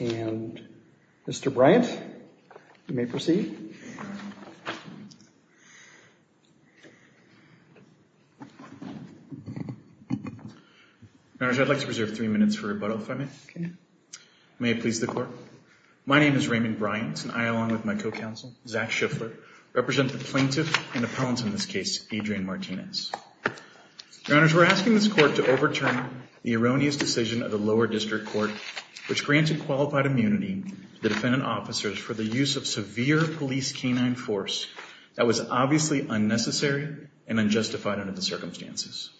and Mr. Bryant. You may proceed. I'd like to reserve three minutes for rebuttal, if I may. May it please the court? My name is Raymond Bryant, and I, along with my co-counsel, Zach Schiffler, represent the plaintiff and appellant in this case, Adrian Martinez. Your Honors, we're asking this court to overturn the erroneous decision of the lower district court, which granted qualified immunity to the use of severe police canine force that was obviously unnecessary and unjustified under the circumstances.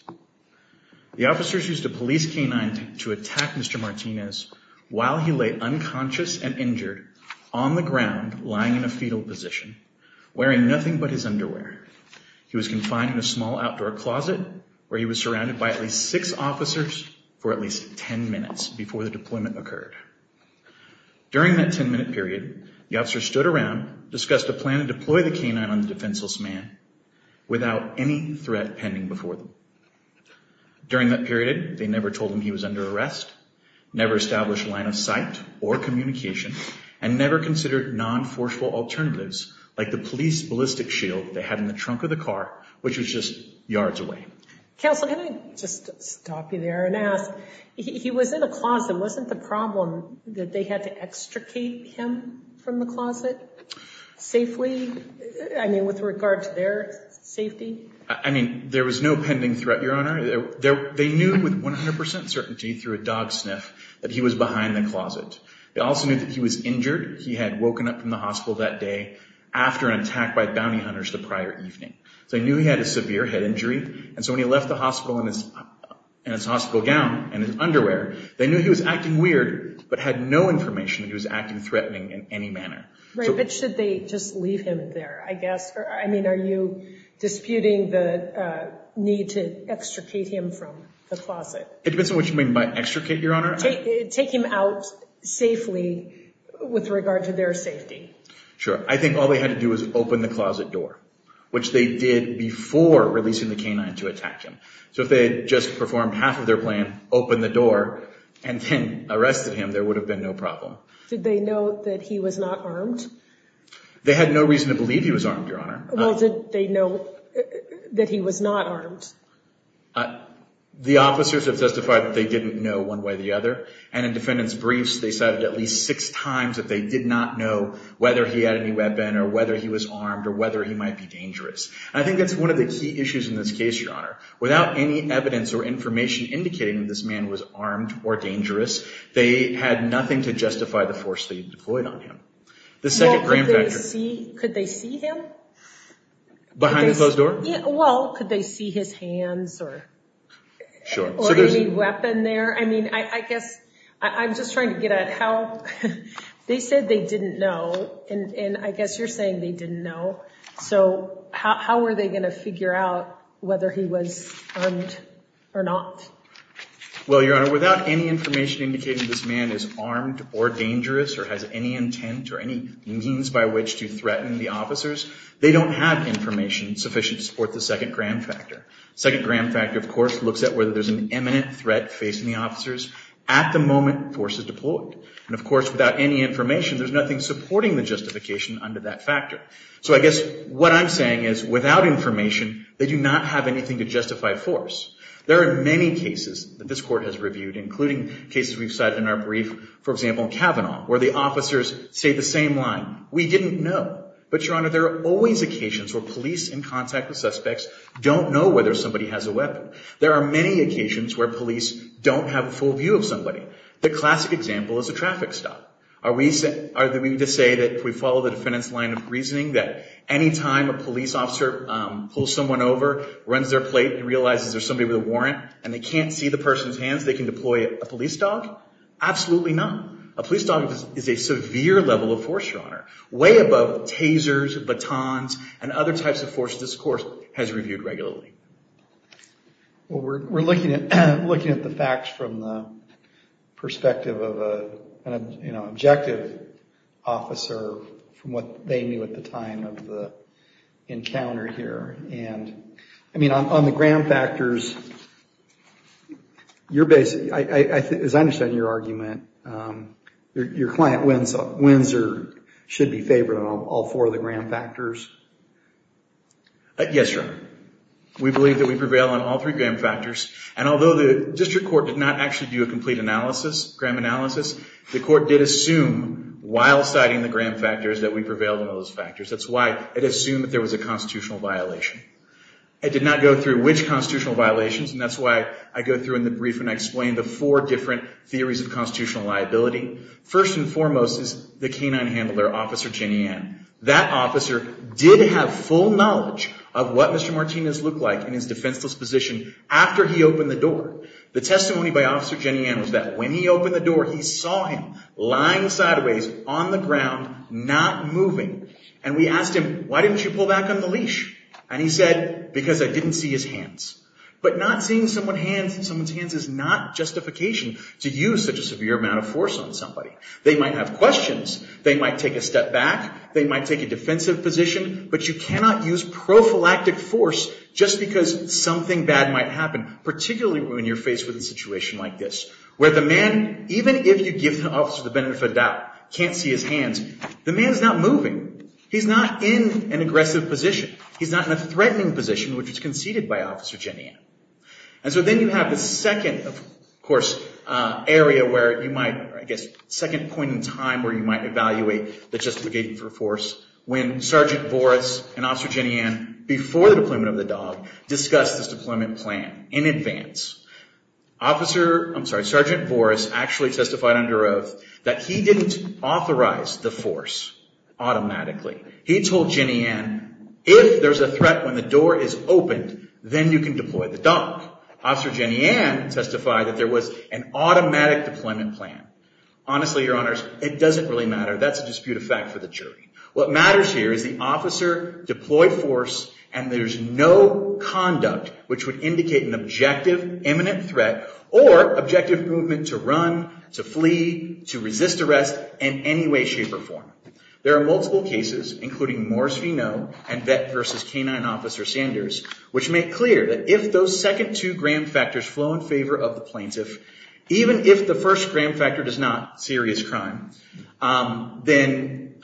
The officers used a police canine to attack Mr. Martinez while he lay unconscious and injured on the ground, lying in a fetal position, wearing nothing but his underwear. He was confined in a small outdoor closet, where he was surrounded by at least six officers for at least ten minutes before the deployment occurred. During that ten-minute period, the officers stood around, discussed a plan to deploy the canine on the defenseless man without any threat pending before them. During that period, they never told him he was under arrest, never established a line of sight or communication, and never considered non-forceful alternatives like the police ballistic shield they had in the trunk of the car, which was just yards away. Counsel, can I just stop you there and ask, he was in a closet. Wasn't the problem that they had to extricate him from the closet safely? I mean, with regard to their safety? I mean, there was no pending threat, Your Honor. They knew with 100 percent certainty through a dog sniff that he was behind the closet. They also knew that he was injured. He had woken up from the hospital that day after an attack by bounty hunters the prior evening. So they knew he had a severe head injury. They knew he was acting weird, but had no information that he was acting threatening in any manner. Right, but should they just leave him there, I guess? I mean, are you disputing the need to extricate him from the closet? It depends on what you mean by extricate, Your Honor. Take him out safely with regard to their safety. Sure. I think all they had to do was open the closet door, which they did before releasing the canine to attack him. So if they had just performed half of their plan, opened the door, and then arrested him, there would have been no problem. Did they know that he was not armed? They had no reason to believe he was armed, Your Honor. Well, did they know that he was not armed? The officers have testified that they didn't know one way or the other, and in defendant's briefs they said at least six times that they did not know whether he had any weapon or whether he was armed or whether he might be dangerous. I think that's one of the key issues in this case, Your Honor. Without any evidence or information indicating that this man was armed or dangerous, they had nothing to justify the force they deployed on him. The second grand factor... Well, could they see him? Behind the closed door? Well, could they see his hands or any weapon there? I mean, I guess I'm just trying to get at how they said they didn't know, and I guess you're saying they didn't know. So how were they going to figure out whether he was armed or not? Well, Your Honor, without any information indicating this man is armed or dangerous or has any intent or any means by which to threaten the officers, they don't have information sufficient to support the second grand factor. Second grand factor, of course, looks at whether there's an imminent threat facing the officers at the moment the force is deployed. And, of course, without any information, there's nothing supporting the justification under that factor. So I guess what I'm saying is without information, they do not have anything to justify force. There are many cases that this Court has reviewed, including cases we've cited in our brief, for example, in Kavanaugh, where the officers say the same line, we didn't know. But, Your Honor, there are always occasions where police in contact with suspects don't know whether somebody has a weapon. There are many occasions where police don't have a full view of somebody. The classic example is a traffic stop. Are we to say that if we follow the defendant's line of reasoning that any time a police officer pulls someone over, runs their plate, and realizes there's somebody with a warrant, and they can't see the person's hands, they can deploy a police dog? Absolutely not. A police dog is a severe level of force, Your Honor. Way above tasers, batons, and other types of force this Court has reviewed regularly. Well, we're looking at the facts from the perspective of an objective officer from what we've encountered here. And, I mean, on the gram factors, as I understand your argument, your client wins or should be favored on all four of the gram factors? Yes, Your Honor. We believe that we prevail on all three gram factors. And although the District Court did not actually do a complete analysis, gram analysis, the Court did assume while citing the gram factors that we prevailed on those factors. That's why it assumed that there was a constitutional violation. It did not go through which constitutional violations, and that's why I go through in the brief and I explain the four different theories of constitutional liability. First and foremost is the canine handler, Officer Jenny Ann. That officer did have full knowledge of what Mr. Martinez looked like in his defenseless position after he opened the door. The testimony by Officer Jenny Ann was that when he opened the door, he saw him lying sideways on the ground, not moving. And we asked him, why didn't you pull back on the leash? And he said, because I didn't see his hands. But not seeing someone's hands is not justification to use such a severe amount of force on somebody. They might have questions. They might take a step back. They might take a defensive position. But you cannot use prophylactic force just because something bad might happen, particularly when you're faced with a situation like this, where the man, even if you give the officer the benefit of the doubt, can't see his hands. The man's not moving. He's not in an aggressive position. He's not in a threatening position, which was conceded by Officer Jenny Ann. And so then you have the second, of course, area where you might, I guess, second point in time where you might evaluate the justification for force, when Sergeant Boris and Officer Jenny Ann, before the deployment of the dog, discussed this deployment plan in advance. Officer, I'm sorry, Sergeant Boris actually testified under oath that he didn't authorize the force automatically. He told Jenny Ann, if there's a threat when the door is opened, then you can deploy the dog. Officer Jenny Ann testified that there was an automatic deployment plan. Honestly, Your Honors, it doesn't really matter. That's a disputed fact for the jury. What matters here is the officer deployed force, and there's no conduct which would indicate an objective, imminent threat, or objective movement to run, to flee, to resist arrest, in any way, shape, or form. There are multiple cases, including Morris v. Noe and Vet v. K-9 Officer Sanders, which make clear that if those second two gram factors flow in favor of the plaintiff, even if the first gram factor does not, serious crime, then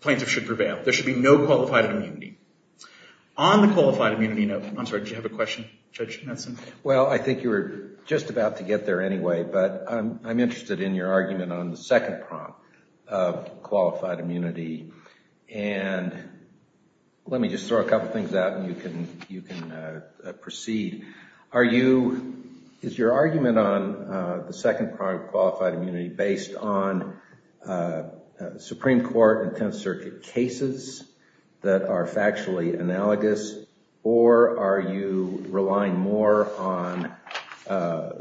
plaintiff should prevail. There should be no qualified immunity. On the qualified immunity note, I'm sorry, did you have a question, Judge Netson? Well, I think you were just about to get there anyway, but I'm interested in your argument on the second prompt of qualified immunity, and let me just throw a couple things out and you can proceed. Is your argument on the second part of qualified immunity based on Supreme Court and Tenth Circuit cases that are factually analogous, or are you relying more on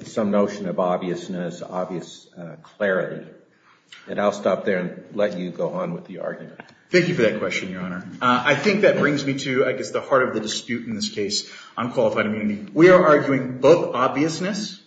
some notion of obviousness, obvious clarity? And I'll stop there and let you go on with the argument. Thank you for that question, Your Honor. I think that brings me to, I guess, the heart of the dispute in this case on qualified immunity. We are arguing both obviousness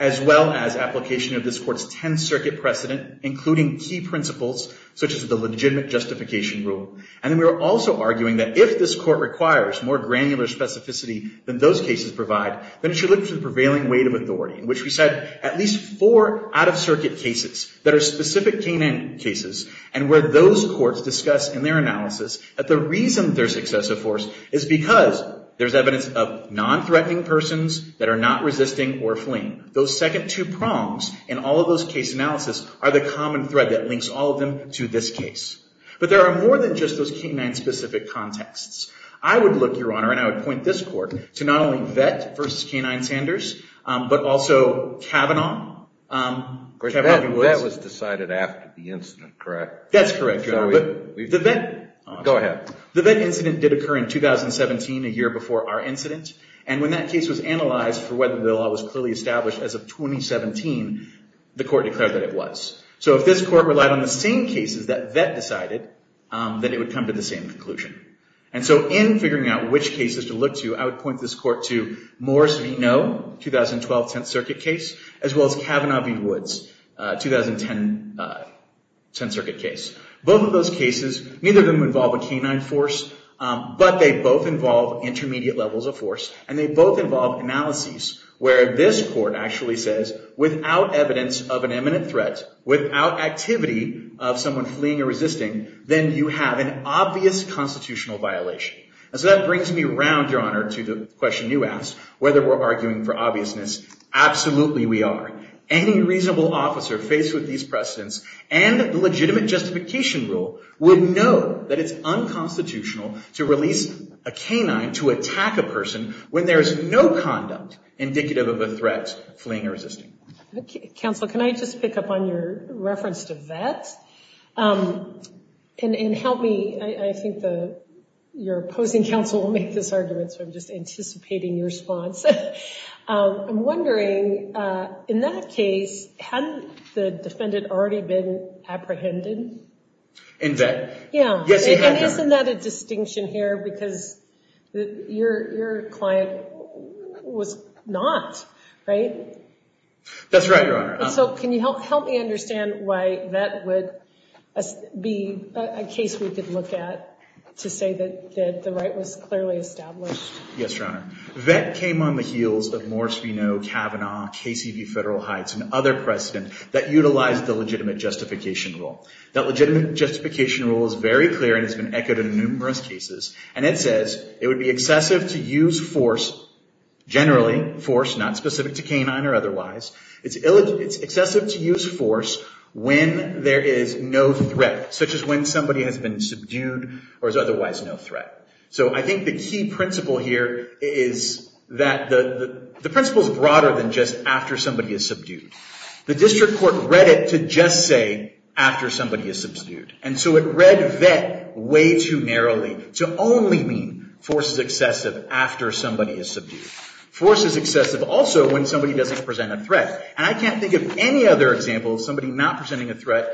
as well as application of this court's Tenth Circuit precedent, including key principles such as the legitimate justification rule. And then we are also arguing that if this court requires more granular specificity than those cases provide, then it should look to the prevailing weight of authority, in which we said at least four out-of-circuit cases that are specific K-9 cases, and where those courts discuss in their analysis that the reason there's excessive force is because there's evidence of non-threatening persons that are not resisting or fleeing. Those second two prongs in all of those case analysis are the common thread that links all of them to this case. But there are more than just those K-9 specific contexts. I would look, Your Honor, and I would point this court to not only Vette versus K-9 Sanders, but also Kavanaugh. That was decided after the incident, correct? That's correct, Your Honor. But the Vette incident did occur in 2017, a year before our incident. And when that case was analyzed for whether the law was clearly established as of 2017, the court declared that it was. So if this court relied on the same cases that Vette decided, then it would come to the same conclusion. And so in figuring out which cases to look to, I would point this court to Moore's v. Noe, 2012 Tenth Circuit case, as well as Kavanaugh v. Woods, 2010 Tenth Circuit case. Both of those cases, neither of them involve a K-9 force, but they both involve intermediate levels of force. And they both involve analyses where this court actually says, without evidence of an imminent threat, without activity of someone fleeing or resisting, then you have an obvious constitutional violation. And so that brings me around, Your Honor, to the question you asked, whether we're arguing for obviousness. Absolutely we are. Any reasonable officer faced with these precedents and the legitimate justification rule would know that it's unconstitutional to release a K-9 to attack a person when there is no conduct indicative of a threat fleeing or resisting. Counsel, can I just pick up on your reference to Vette? And help me, I think your opposing counsel will make this argument, so I'm just In that case, hadn't the defendant already been apprehended? In Vette? Yeah. And isn't that a distinction here? Because your client was not, right? That's right, Your Honor. And so can you help me understand why that would be a case we could look at to say that the right was clearly established? Yes, Your Honor. Vette came on the heels of Morris v. Noe, Kavanaugh, Casey v. Federal Heights, and other precedents that utilized the legitimate justification rule. That legitimate justification rule is very clear and has been echoed in numerous cases. And it says, it would be excessive to use force, generally force, not specific to K-9 or otherwise. It's excessive to use force when there is no threat, such as when somebody has been subdued or is otherwise no threat. So I think the key principle here is that the principle is broader than just after somebody is subdued. The district court read it to just say, after somebody is subdued. And so it read Vette way too narrowly to only mean force is excessive after somebody is subdued. Force is excessive also when somebody doesn't present a threat. And I can't think of any other example of somebody not presenting a threat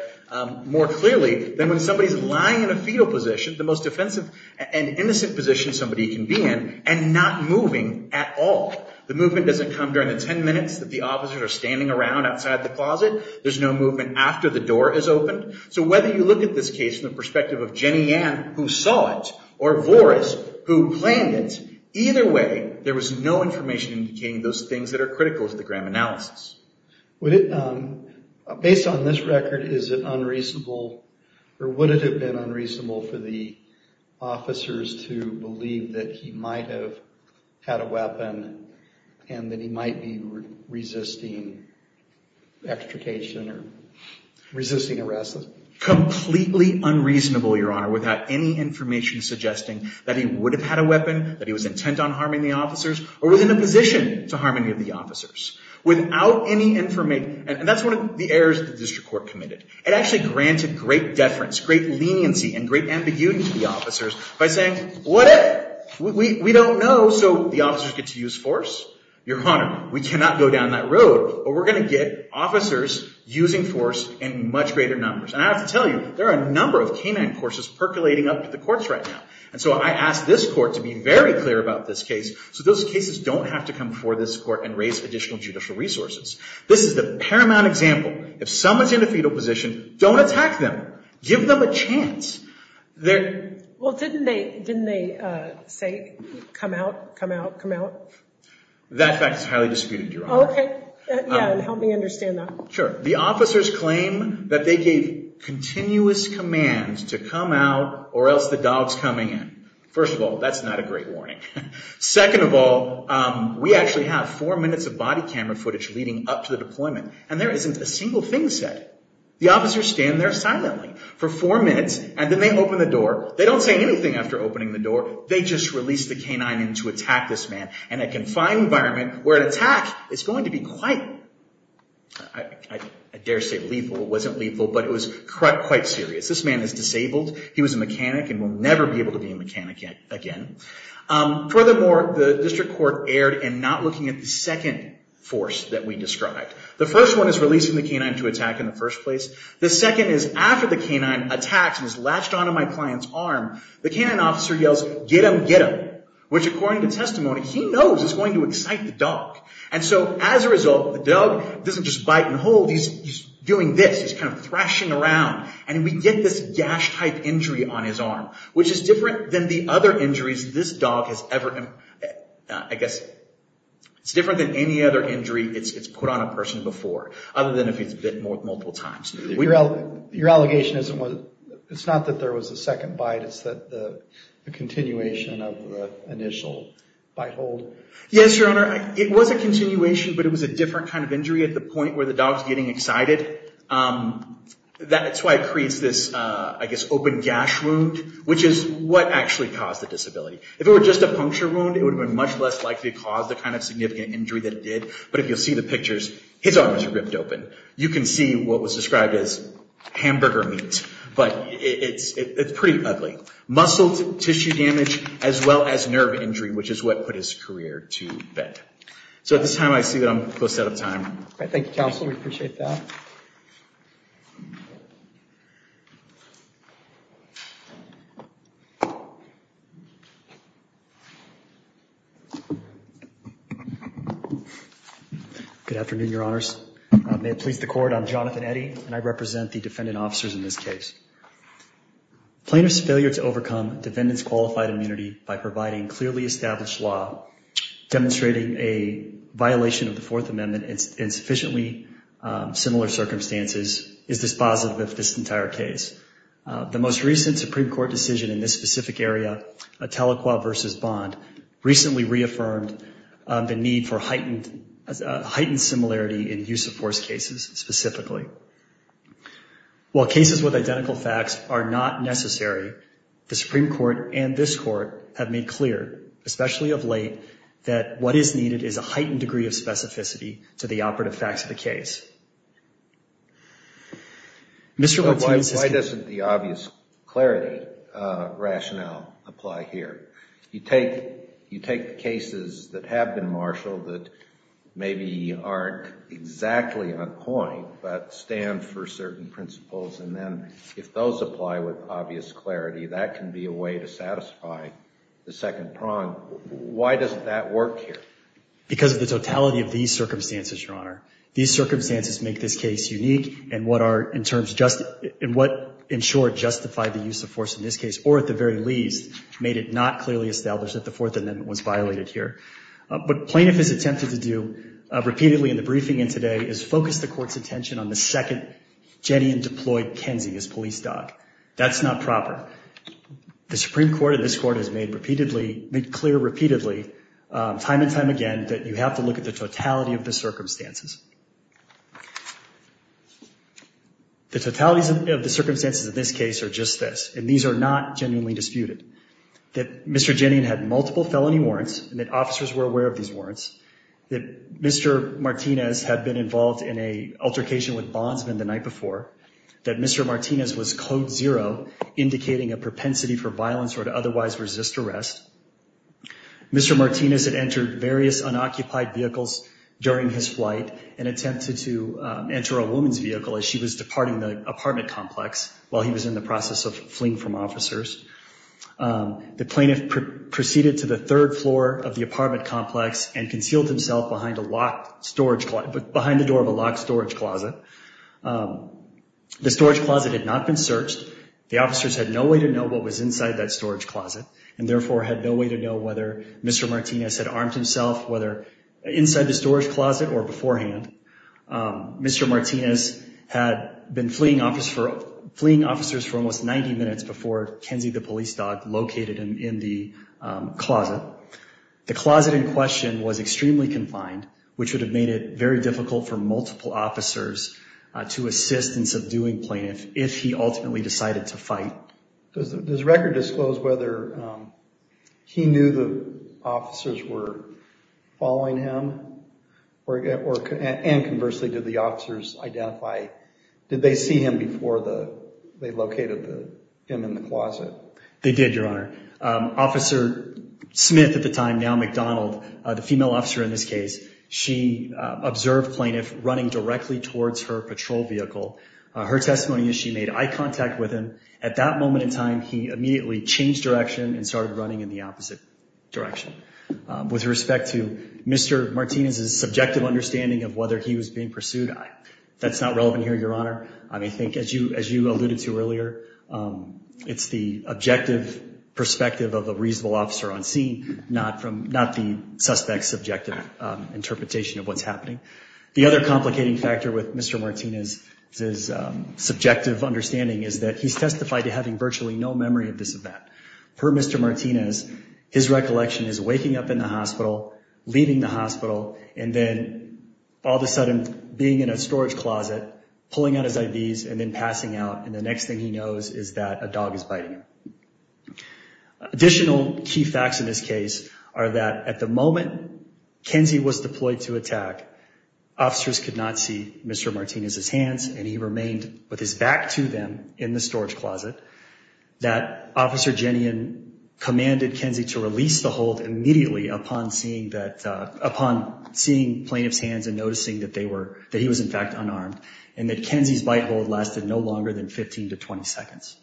more clearly than when somebody is lying in a fetal position, the most offensive and innocent position somebody can be in, and not moving at all. The movement doesn't come during the 10 minutes that the officers are standing around outside the closet. There's no movement after the door is opened. So whether you look at this case from the perspective of Jenny Ann, who saw it, or Voris, who planned it, either way, there was no information indicating those things that are critical to the Graham analysis. Based on this record, is it unreasonable or would it have been unreasonable for the officers to believe that he might have had a weapon and that he might be resisting extrication or resisting arrest? Completely unreasonable, Your Honor, without any information suggesting that he would have had a weapon, that he was intent on harming the officers, or was in a position to harm any of the officers. Without any information. And that's one of the errors that the district court committed. It actually granted great deference, great leniency, and great ambiguity to the officers by saying, what if? We don't know. So the officers get to use force? Your Honor, we cannot go down that road, but we're going to get officers using force in much greater numbers. And I have to tell you, there are a number of K-9 courses percolating up to the courts right now. And so I ask this court to be very clear about this case so those cases don't have to come before this court and raise additional judicial resources. This is the paramount example. If someone's in a fetal position, don't attack them. Give them a chance. Well, didn't they say, come out, come out, come out? That fact is highly disputed, Your Honor. Okay. Yeah, help me understand that. Sure. The officers claim that they gave continuous commands to come out or else the dog's coming in. First of all, we actually have four minutes of body camera footage leading up to the deployment, and there isn't a single thing said. The officers stand there silently for four minutes, and then they open the door. They don't say anything after opening the door. They just release the K-9 in to attack this man in a confined environment where an attack is going to be quite, I dare say, lethal. It wasn't lethal, but it was quite serious. This man is disabled. He was a mechanic and will and not looking at the second force that we described. The first one is releasing the K-9 to attack in the first place. The second is after the K-9 attacks and is latched onto my client's arm, the K-9 officer yells, get him, get him, which, according to testimony, he knows is going to excite the dog. And so as a result, the dog doesn't just bite and hold. He's doing this. He's kind of thrashing around. And we get this gash-type injury on his arm, which is different than the injuries this dog has ever, I guess, it's different than any other injury it's put on a person before, other than if it's bitten multiple times. Your allegation isn't, it's not that there was a second bite. It's that the continuation of the initial bite hold. Yes, Your Honor. It was a continuation, but it was a different kind of injury at the point where the dog's getting excited. That's why it creates this, I guess, open gash wound, which is what actually caused the disability. If it were just a puncture wound, it would have been much less likely to cause the kind of significant injury that it did. But if you'll see the pictures, his arm is ripped open. You can see what was described as hamburger meat, but it's pretty ugly. Muscle tissue damage, as well as nerve injury, which is what put his career to bed. So at this time, I see that I'm close out of time. All right. Thank you, Counsel. We appreciate that. Good afternoon, Your Honors. May it please the Court, I'm Jonathan Eddy, and I represent the defendant officers in this case. Plaintiff's failure to overcome defendant's qualified immunity by providing clearly established law demonstrating a violation of the Fourth Amendment in sufficiently similar circumstances is dispositive of this entire case. The most recent Supreme Court decision in this specific area, Atalaqua v. Bond, recently reaffirmed the need for heightened similarity in use-of-force cases specifically. While cases with identical facts are not necessary, the Supreme Court and this Court have made clear, especially of late, that what is needed is a heightened degree of specificity to the operative facts of the case. Mr. Lutz. Why doesn't the obvious clarity rationale apply here? You take cases that have been marshaled that maybe aren't exactly on point, but stand for certain principles, and then if those apply with obvious clarity, that can be a way to satisfy the second prong. Why doesn't that work here? Because of the totality of these circumstances, Your Honor. These circumstances make this case unique, and what are, in terms just, in what, in short, justify the use-of-force in this case, or at the very least, made it not clearly established that the Fourth Amendment was violated here. What plaintiff has attempted to do repeatedly in the That's not proper. The Supreme Court and this Court has made repeatedly, made clear repeatedly, time and time again, that you have to look at the totality of the circumstances. The totalities of the circumstances of this case are just this, and these are not genuinely disputed. That Mr. Ginnian had multiple felony warrants, and that officers were aware of these warrants. That Mr. Martinez had been involved in an altercation with Bondsman the night before. That Mr. Martinez was code zero, indicating a propensity for violence or to otherwise resist arrest. Mr. Martinez had entered various unoccupied vehicles during his flight and attempted to enter a woman's vehicle as she was departing the apartment complex while he was in the process of fleeing from officers. The plaintiff proceeded to the third floor of the apartment complex and the storage closet had not been searched. The officers had no way to know what was inside that storage closet and therefore had no way to know whether Mr. Martinez had armed himself, whether inside the storage closet or beforehand. Mr. Martinez had been fleeing officers for almost 90 minutes before Kenzie the police dog located him in the closet. The closet in question was of doing plaintiff if he ultimately decided to fight. Does this record disclose whether he knew the officers were following him? And conversely, did the officers identify, did they see him before they located him in the closet? They did, your honor. Officer Smith, at the time, now McDonald, the female officer in this case, she observed plaintiff running towards her patrol vehicle. Her testimony is she made eye contact with him. At that moment in time, he immediately changed direction and started running in the opposite direction. With respect to Mr. Martinez's subjective understanding of whether he was being pursued, that's not relevant here, your honor. I think as you alluded to earlier, it's the objective perspective of a reasonable officer on scene, not the suspect's subjective interpretation of what's happening. The other complicating factor with Mr. Martinez's subjective understanding is that he's testified to having virtually no memory of this event. Per Mr. Martinez, his recollection is waking up in the hospital, leaving the hospital, and then all of a sudden being in a storage closet, pulling out his IVs, and then passing out. And the next thing he knows is that a dog is biting him. Additional key facts in this case are that at the moment Kenzie was deployed to attack, officers could not see Mr. Martinez's hands, and he remained with his back to them in the storage closet. That Officer Jenian commanded Kenzie to release the hold immediately upon seeing that, upon seeing plaintiff's hands and noticing that they were, that he was in fact unarmed, and that Kenzie's bite hold lasted no longer than 15 to 20 seconds.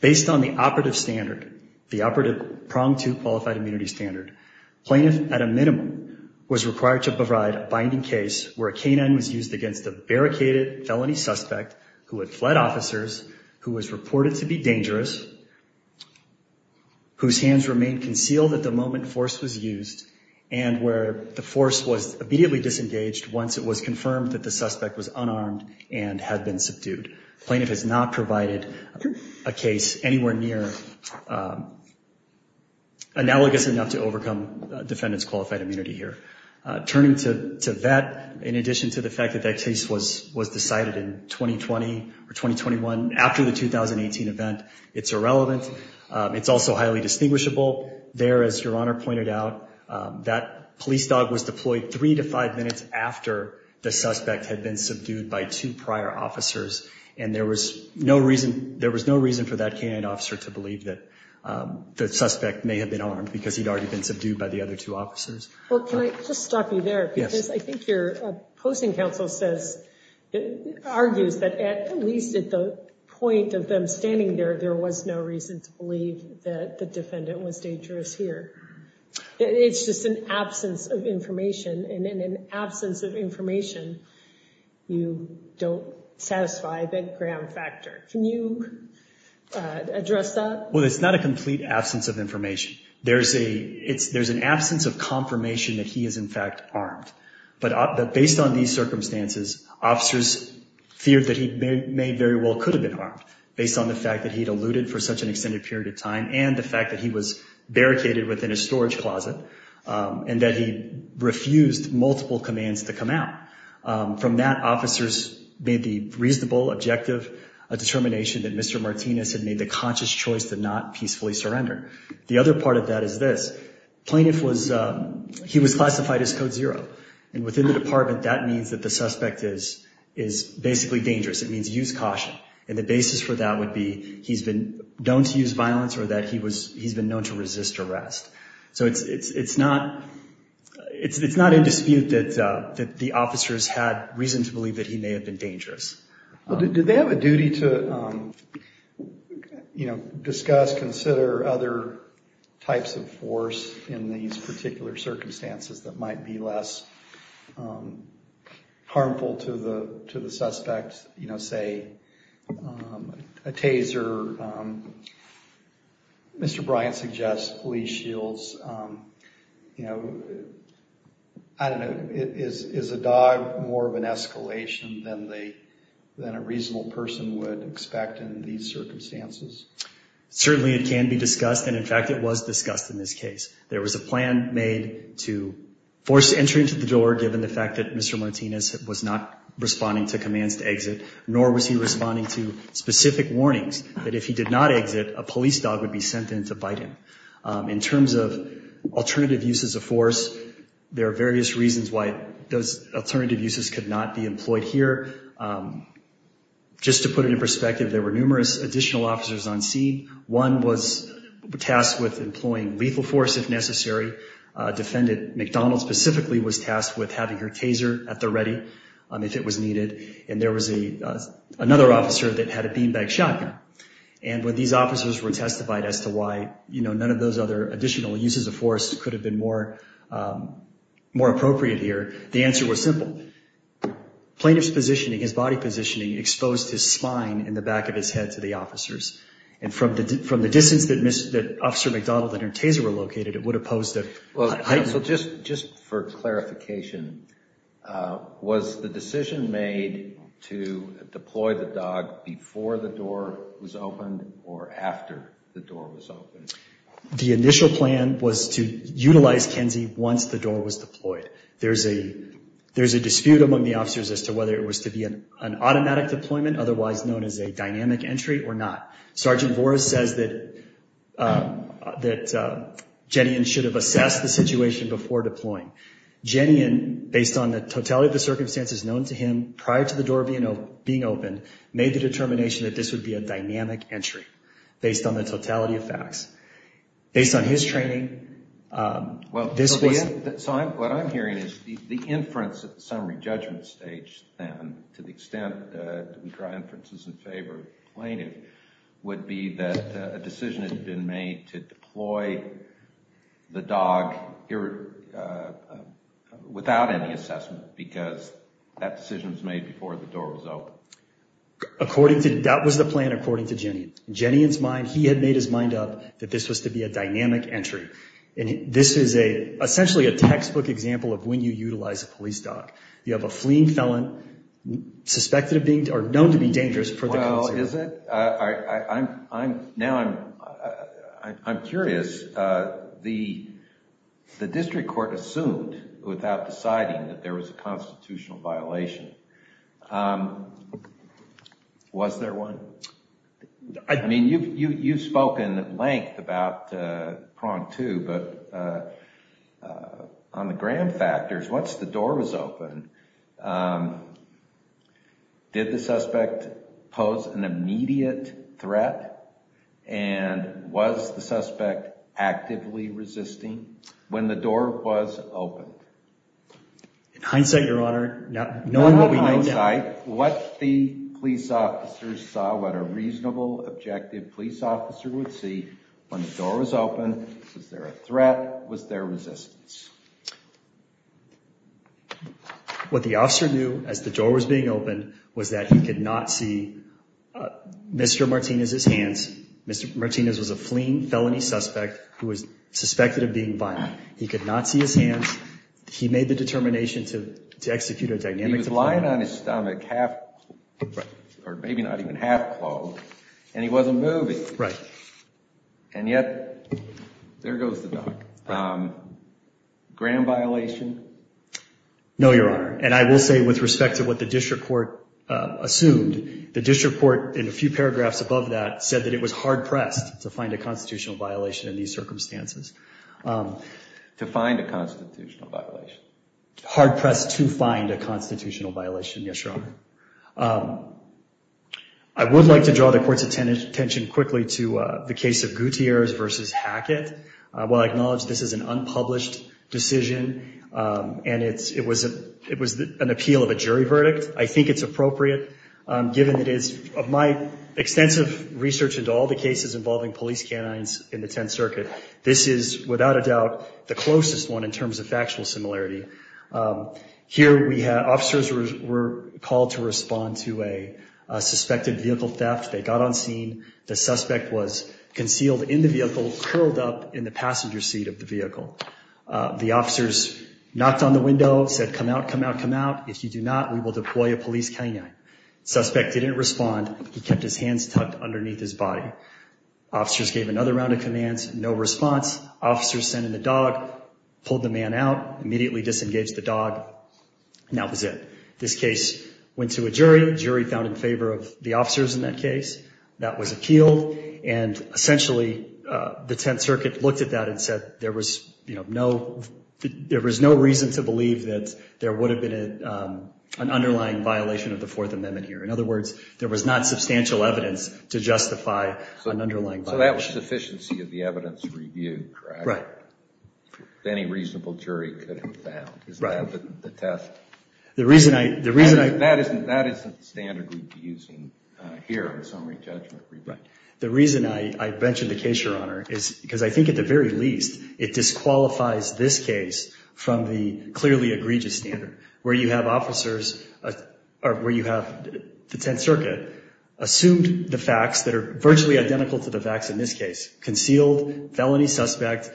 Based on the operative standard, the operative prong to qualified immunity standard, plaintiff at a minimum was required to provide a binding case where a K-9 was used against a barricaded felony suspect who had fled officers, who was reported to be dangerous, whose hands remained concealed at the moment force was used, and where the force was immediately disengaged once it was confirmed that the suspect was unarmed and had been subdued. Plaintiff has not provided a case anywhere near analogous enough to overcome defendants' qualified immunity here. Turning to that, in addition to the fact that that case was decided in 2020 or 2021, after the 2018 event, it's irrelevant. It's also highly distinguishable. There, as Your Honor pointed out, that police dog was deployed three to five minutes after the suspect had been subdued by two prior officers, and there was no reason, there was no reason for that K-9 officer to believe that the suspect may have been armed because he'd already been subdued by the other two officers. Well, can I just stop you there? Yes. Because I think your posting counsel says, argues that at least at the point of them standing there, there was no reason to believe that the defendant was dangerous here. It's just an absence of information, and in an absence of information, you don't satisfy that gram factor. Can you address that? Well, it's not a complete absence of information. There's a, it's, there's an absence of confirmation that he is in fact armed, but based on these circumstances, officers feared that he may very well could have been armed, based on the fact that he'd eluded for such an extended period of time and the fact that he was to come out. From that, officers made the reasonable, objective determination that Mr. Martinez had made the conscious choice to not peacefully surrender. The other part of that is this. Plaintiff was, he was classified as code zero, and within the department that means that the suspect is, is basically dangerous. It means use caution, and the basis for that would be he's been known to use violence or that he was, he's been known to resist arrest. So it's, it's, it's not, it's not in dispute that, that the officers had reason to believe that he may have been dangerous. Well, did they have a duty to, you know, discuss, consider other types of force in these particular circumstances that might be less harmful to the, to the suspect? You know, say a taser. Mr. Bryant suggests police shields. You know, I don't know. Is, is a dog more of an escalation than they, than a reasonable person would expect in these circumstances? Certainly, it can be discussed, and in fact, it was discussed in this case. There was a plan made to force entry into the door, given the fact that Mr. Martinez was not responding to commands to exit, nor was he responding to specific warnings that if he did not exit, a police dog would be sent in to bite him. In terms of alternative uses of force, there are various reasons why those alternative uses could not be employed here. Just to put it in perspective, there were numerous additional officers on scene. One was tasked with employing lethal force, if necessary. Defendant McDonald specifically was tasked with having her taser at the ready, if it was needed. And there was a, another officer that had a beanbag shotgun. And when these officers were testified as to why, you know, none of those other additional uses of force could have been more, more appropriate here, the answer was simple. Plaintiff's positioning, his body positioning, exposed his spine in the back of his head to the officers. And from the, from the distance that Officer McDonald and her taser were located, it would have posed a... Well, just for clarification, was the decision made to deploy the dog before the door was opened or after the door was opened? The initial plan was to utilize Kenzie once the door was deployed. There's a, there's a dispute among the officers as to whether it was to be an automatic deployment, otherwise known as a dynamic entry or not. Sergeant Voris says that, that Jennian should have assessed the situation before deploying. Jennian, based on the totality of the circumstances known to him prior to the door being open, made the determination that this would be a dynamic entry based on the totality of facts. Based on his training, this wasn't... So I'm, what I'm hearing is the inference at the summary judgment stage then, to the extent that we draw inferences in favor of the plaintiff, would be that a decision had been made to deploy the dog without any assessment because that decision was made before the door was open. According to, that was the plan according to Jennian. Jennian's mind, he had made his mind up that this was to be a dynamic entry. And this is a, essentially a textbook example of when you utilize a police dog. You have a fleeing felon suspected of being, or known to be dangerous for the... Well, is it? I, I, I'm, I'm now, I'm, I'm curious. The, the district court assumed without deciding that there was a constitutional violation. Was there one? I mean, you've, you, you've spoken at length about prong two, but on the gram factors, once the door was open, did the suspect pose an immediate threat? And was the suspect actively resisting when the door was open? In hindsight, your honor, no, knowing what we know... In hindsight, what the police officers saw, what a reasonable, objective police officer would see when the door was open, was there a threat? Was there resistance? What the officer knew as the door was being opened was that he could not see Mr. Martinez's hands. Mr. Martinez was a fleeing felony suspect who was suspected of being violent. He could not see his hands. He made the determination to, to execute a dynamic deployment. He was lying on his stomach, half, or maybe not even half-clothed, and he wasn't moving. Right. And yet, there goes the dog. Gram violation? No, your honor. And I will say with respect to what the district court assumed, the district court in a few paragraphs above that said that it was hard-pressed to find a constitutional violation in these circumstances. To find a constitutional violation. Hard-pressed to find a constitutional violation. Yes, your honor. I would like to draw the court's attention quickly to the case of Gutierrez versus Hackett. While I acknowledge this is an unpublished decision, and it's, it was a, it was an appeal of a jury verdict, I think it's appropriate given that it's, of my extensive research into all the cases involving police canines in the Tenth Circuit, this is without a doubt the closest one in terms of factual similarity. Here we had officers were called to respond to a suspected vehicle theft. They got on scene. The suspect was concealed in the vehicle, curled up in the passenger seat of the vehicle. The officers knocked on the window, said, come out, come out, come out. If you do not, we will deploy a police canine. Suspect didn't respond. He kept his hands tucked underneath his body. Officers gave another round of commands. No response. Officers sent in the dog, pulled the man out, immediately disengaged the dog, and that was it. This case went to a jury. Jury found in favor of the officers in that case. That was appealed, and essentially the Tenth Circuit looked at that and said there was, you know, no, there was no reason to believe that there would have been an underlying violation of the Fourth Amendment here. In other words, there was not substantial evidence to The reason I mentioned the case, Your Honor, is because I think at the very least, it disqualifies this case from the clearly egregious standard where you have officers, or where you have the Tenth Circuit assumed the facts that are virtually identical to the facts in this case. Concealed, felony suspect,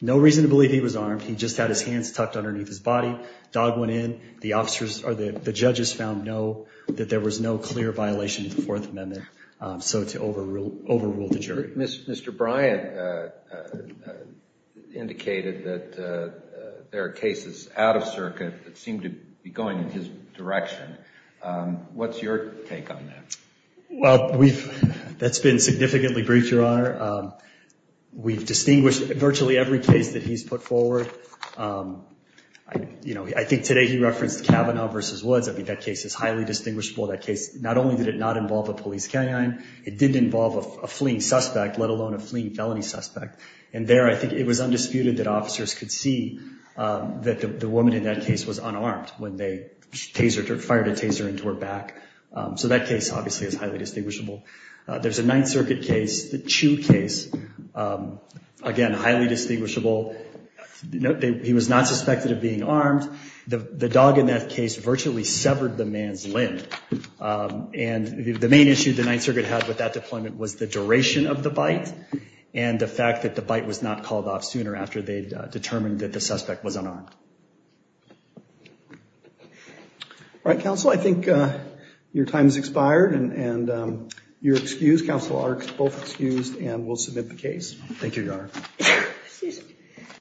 no reason to believe he was armed. He just had his hands tucked underneath his body. Dog went in. The judges found that there was no clear violation of the Fourth Amendment, so to overrule the jury. Mr. Bryant indicated that there are cases out of circuit that seem to be going in his direction. What's your take on that? Well, that's been significantly briefed, Your Honor. We've distinguished virtually every case that he's put forward. You know, I think today he referenced Kavanaugh versus Woods. I think that case is highly distinguishable. That case, not only did it not involve a police canine, it did involve a fleeing suspect, let alone a fleeing felony suspect. And there, I think it was undisputed that officers could see that the woman in that case was unarmed when they fired a taser into her back. So that case, obviously, is highly distinguishable. There's a Ninth Circuit case, the Chew case. Again, highly distinguishable. He was not suspected of being armed. The dog in that case virtually severed the man's limb. And the main issue the Ninth Circuit had with that deployment was the duration of the bite and the fact that the bite was not called off sooner after they were shot. All right, counsel, I think your time has expired and you're excused. Counsel are both excused and will submit the case. Thank you, Your Honor.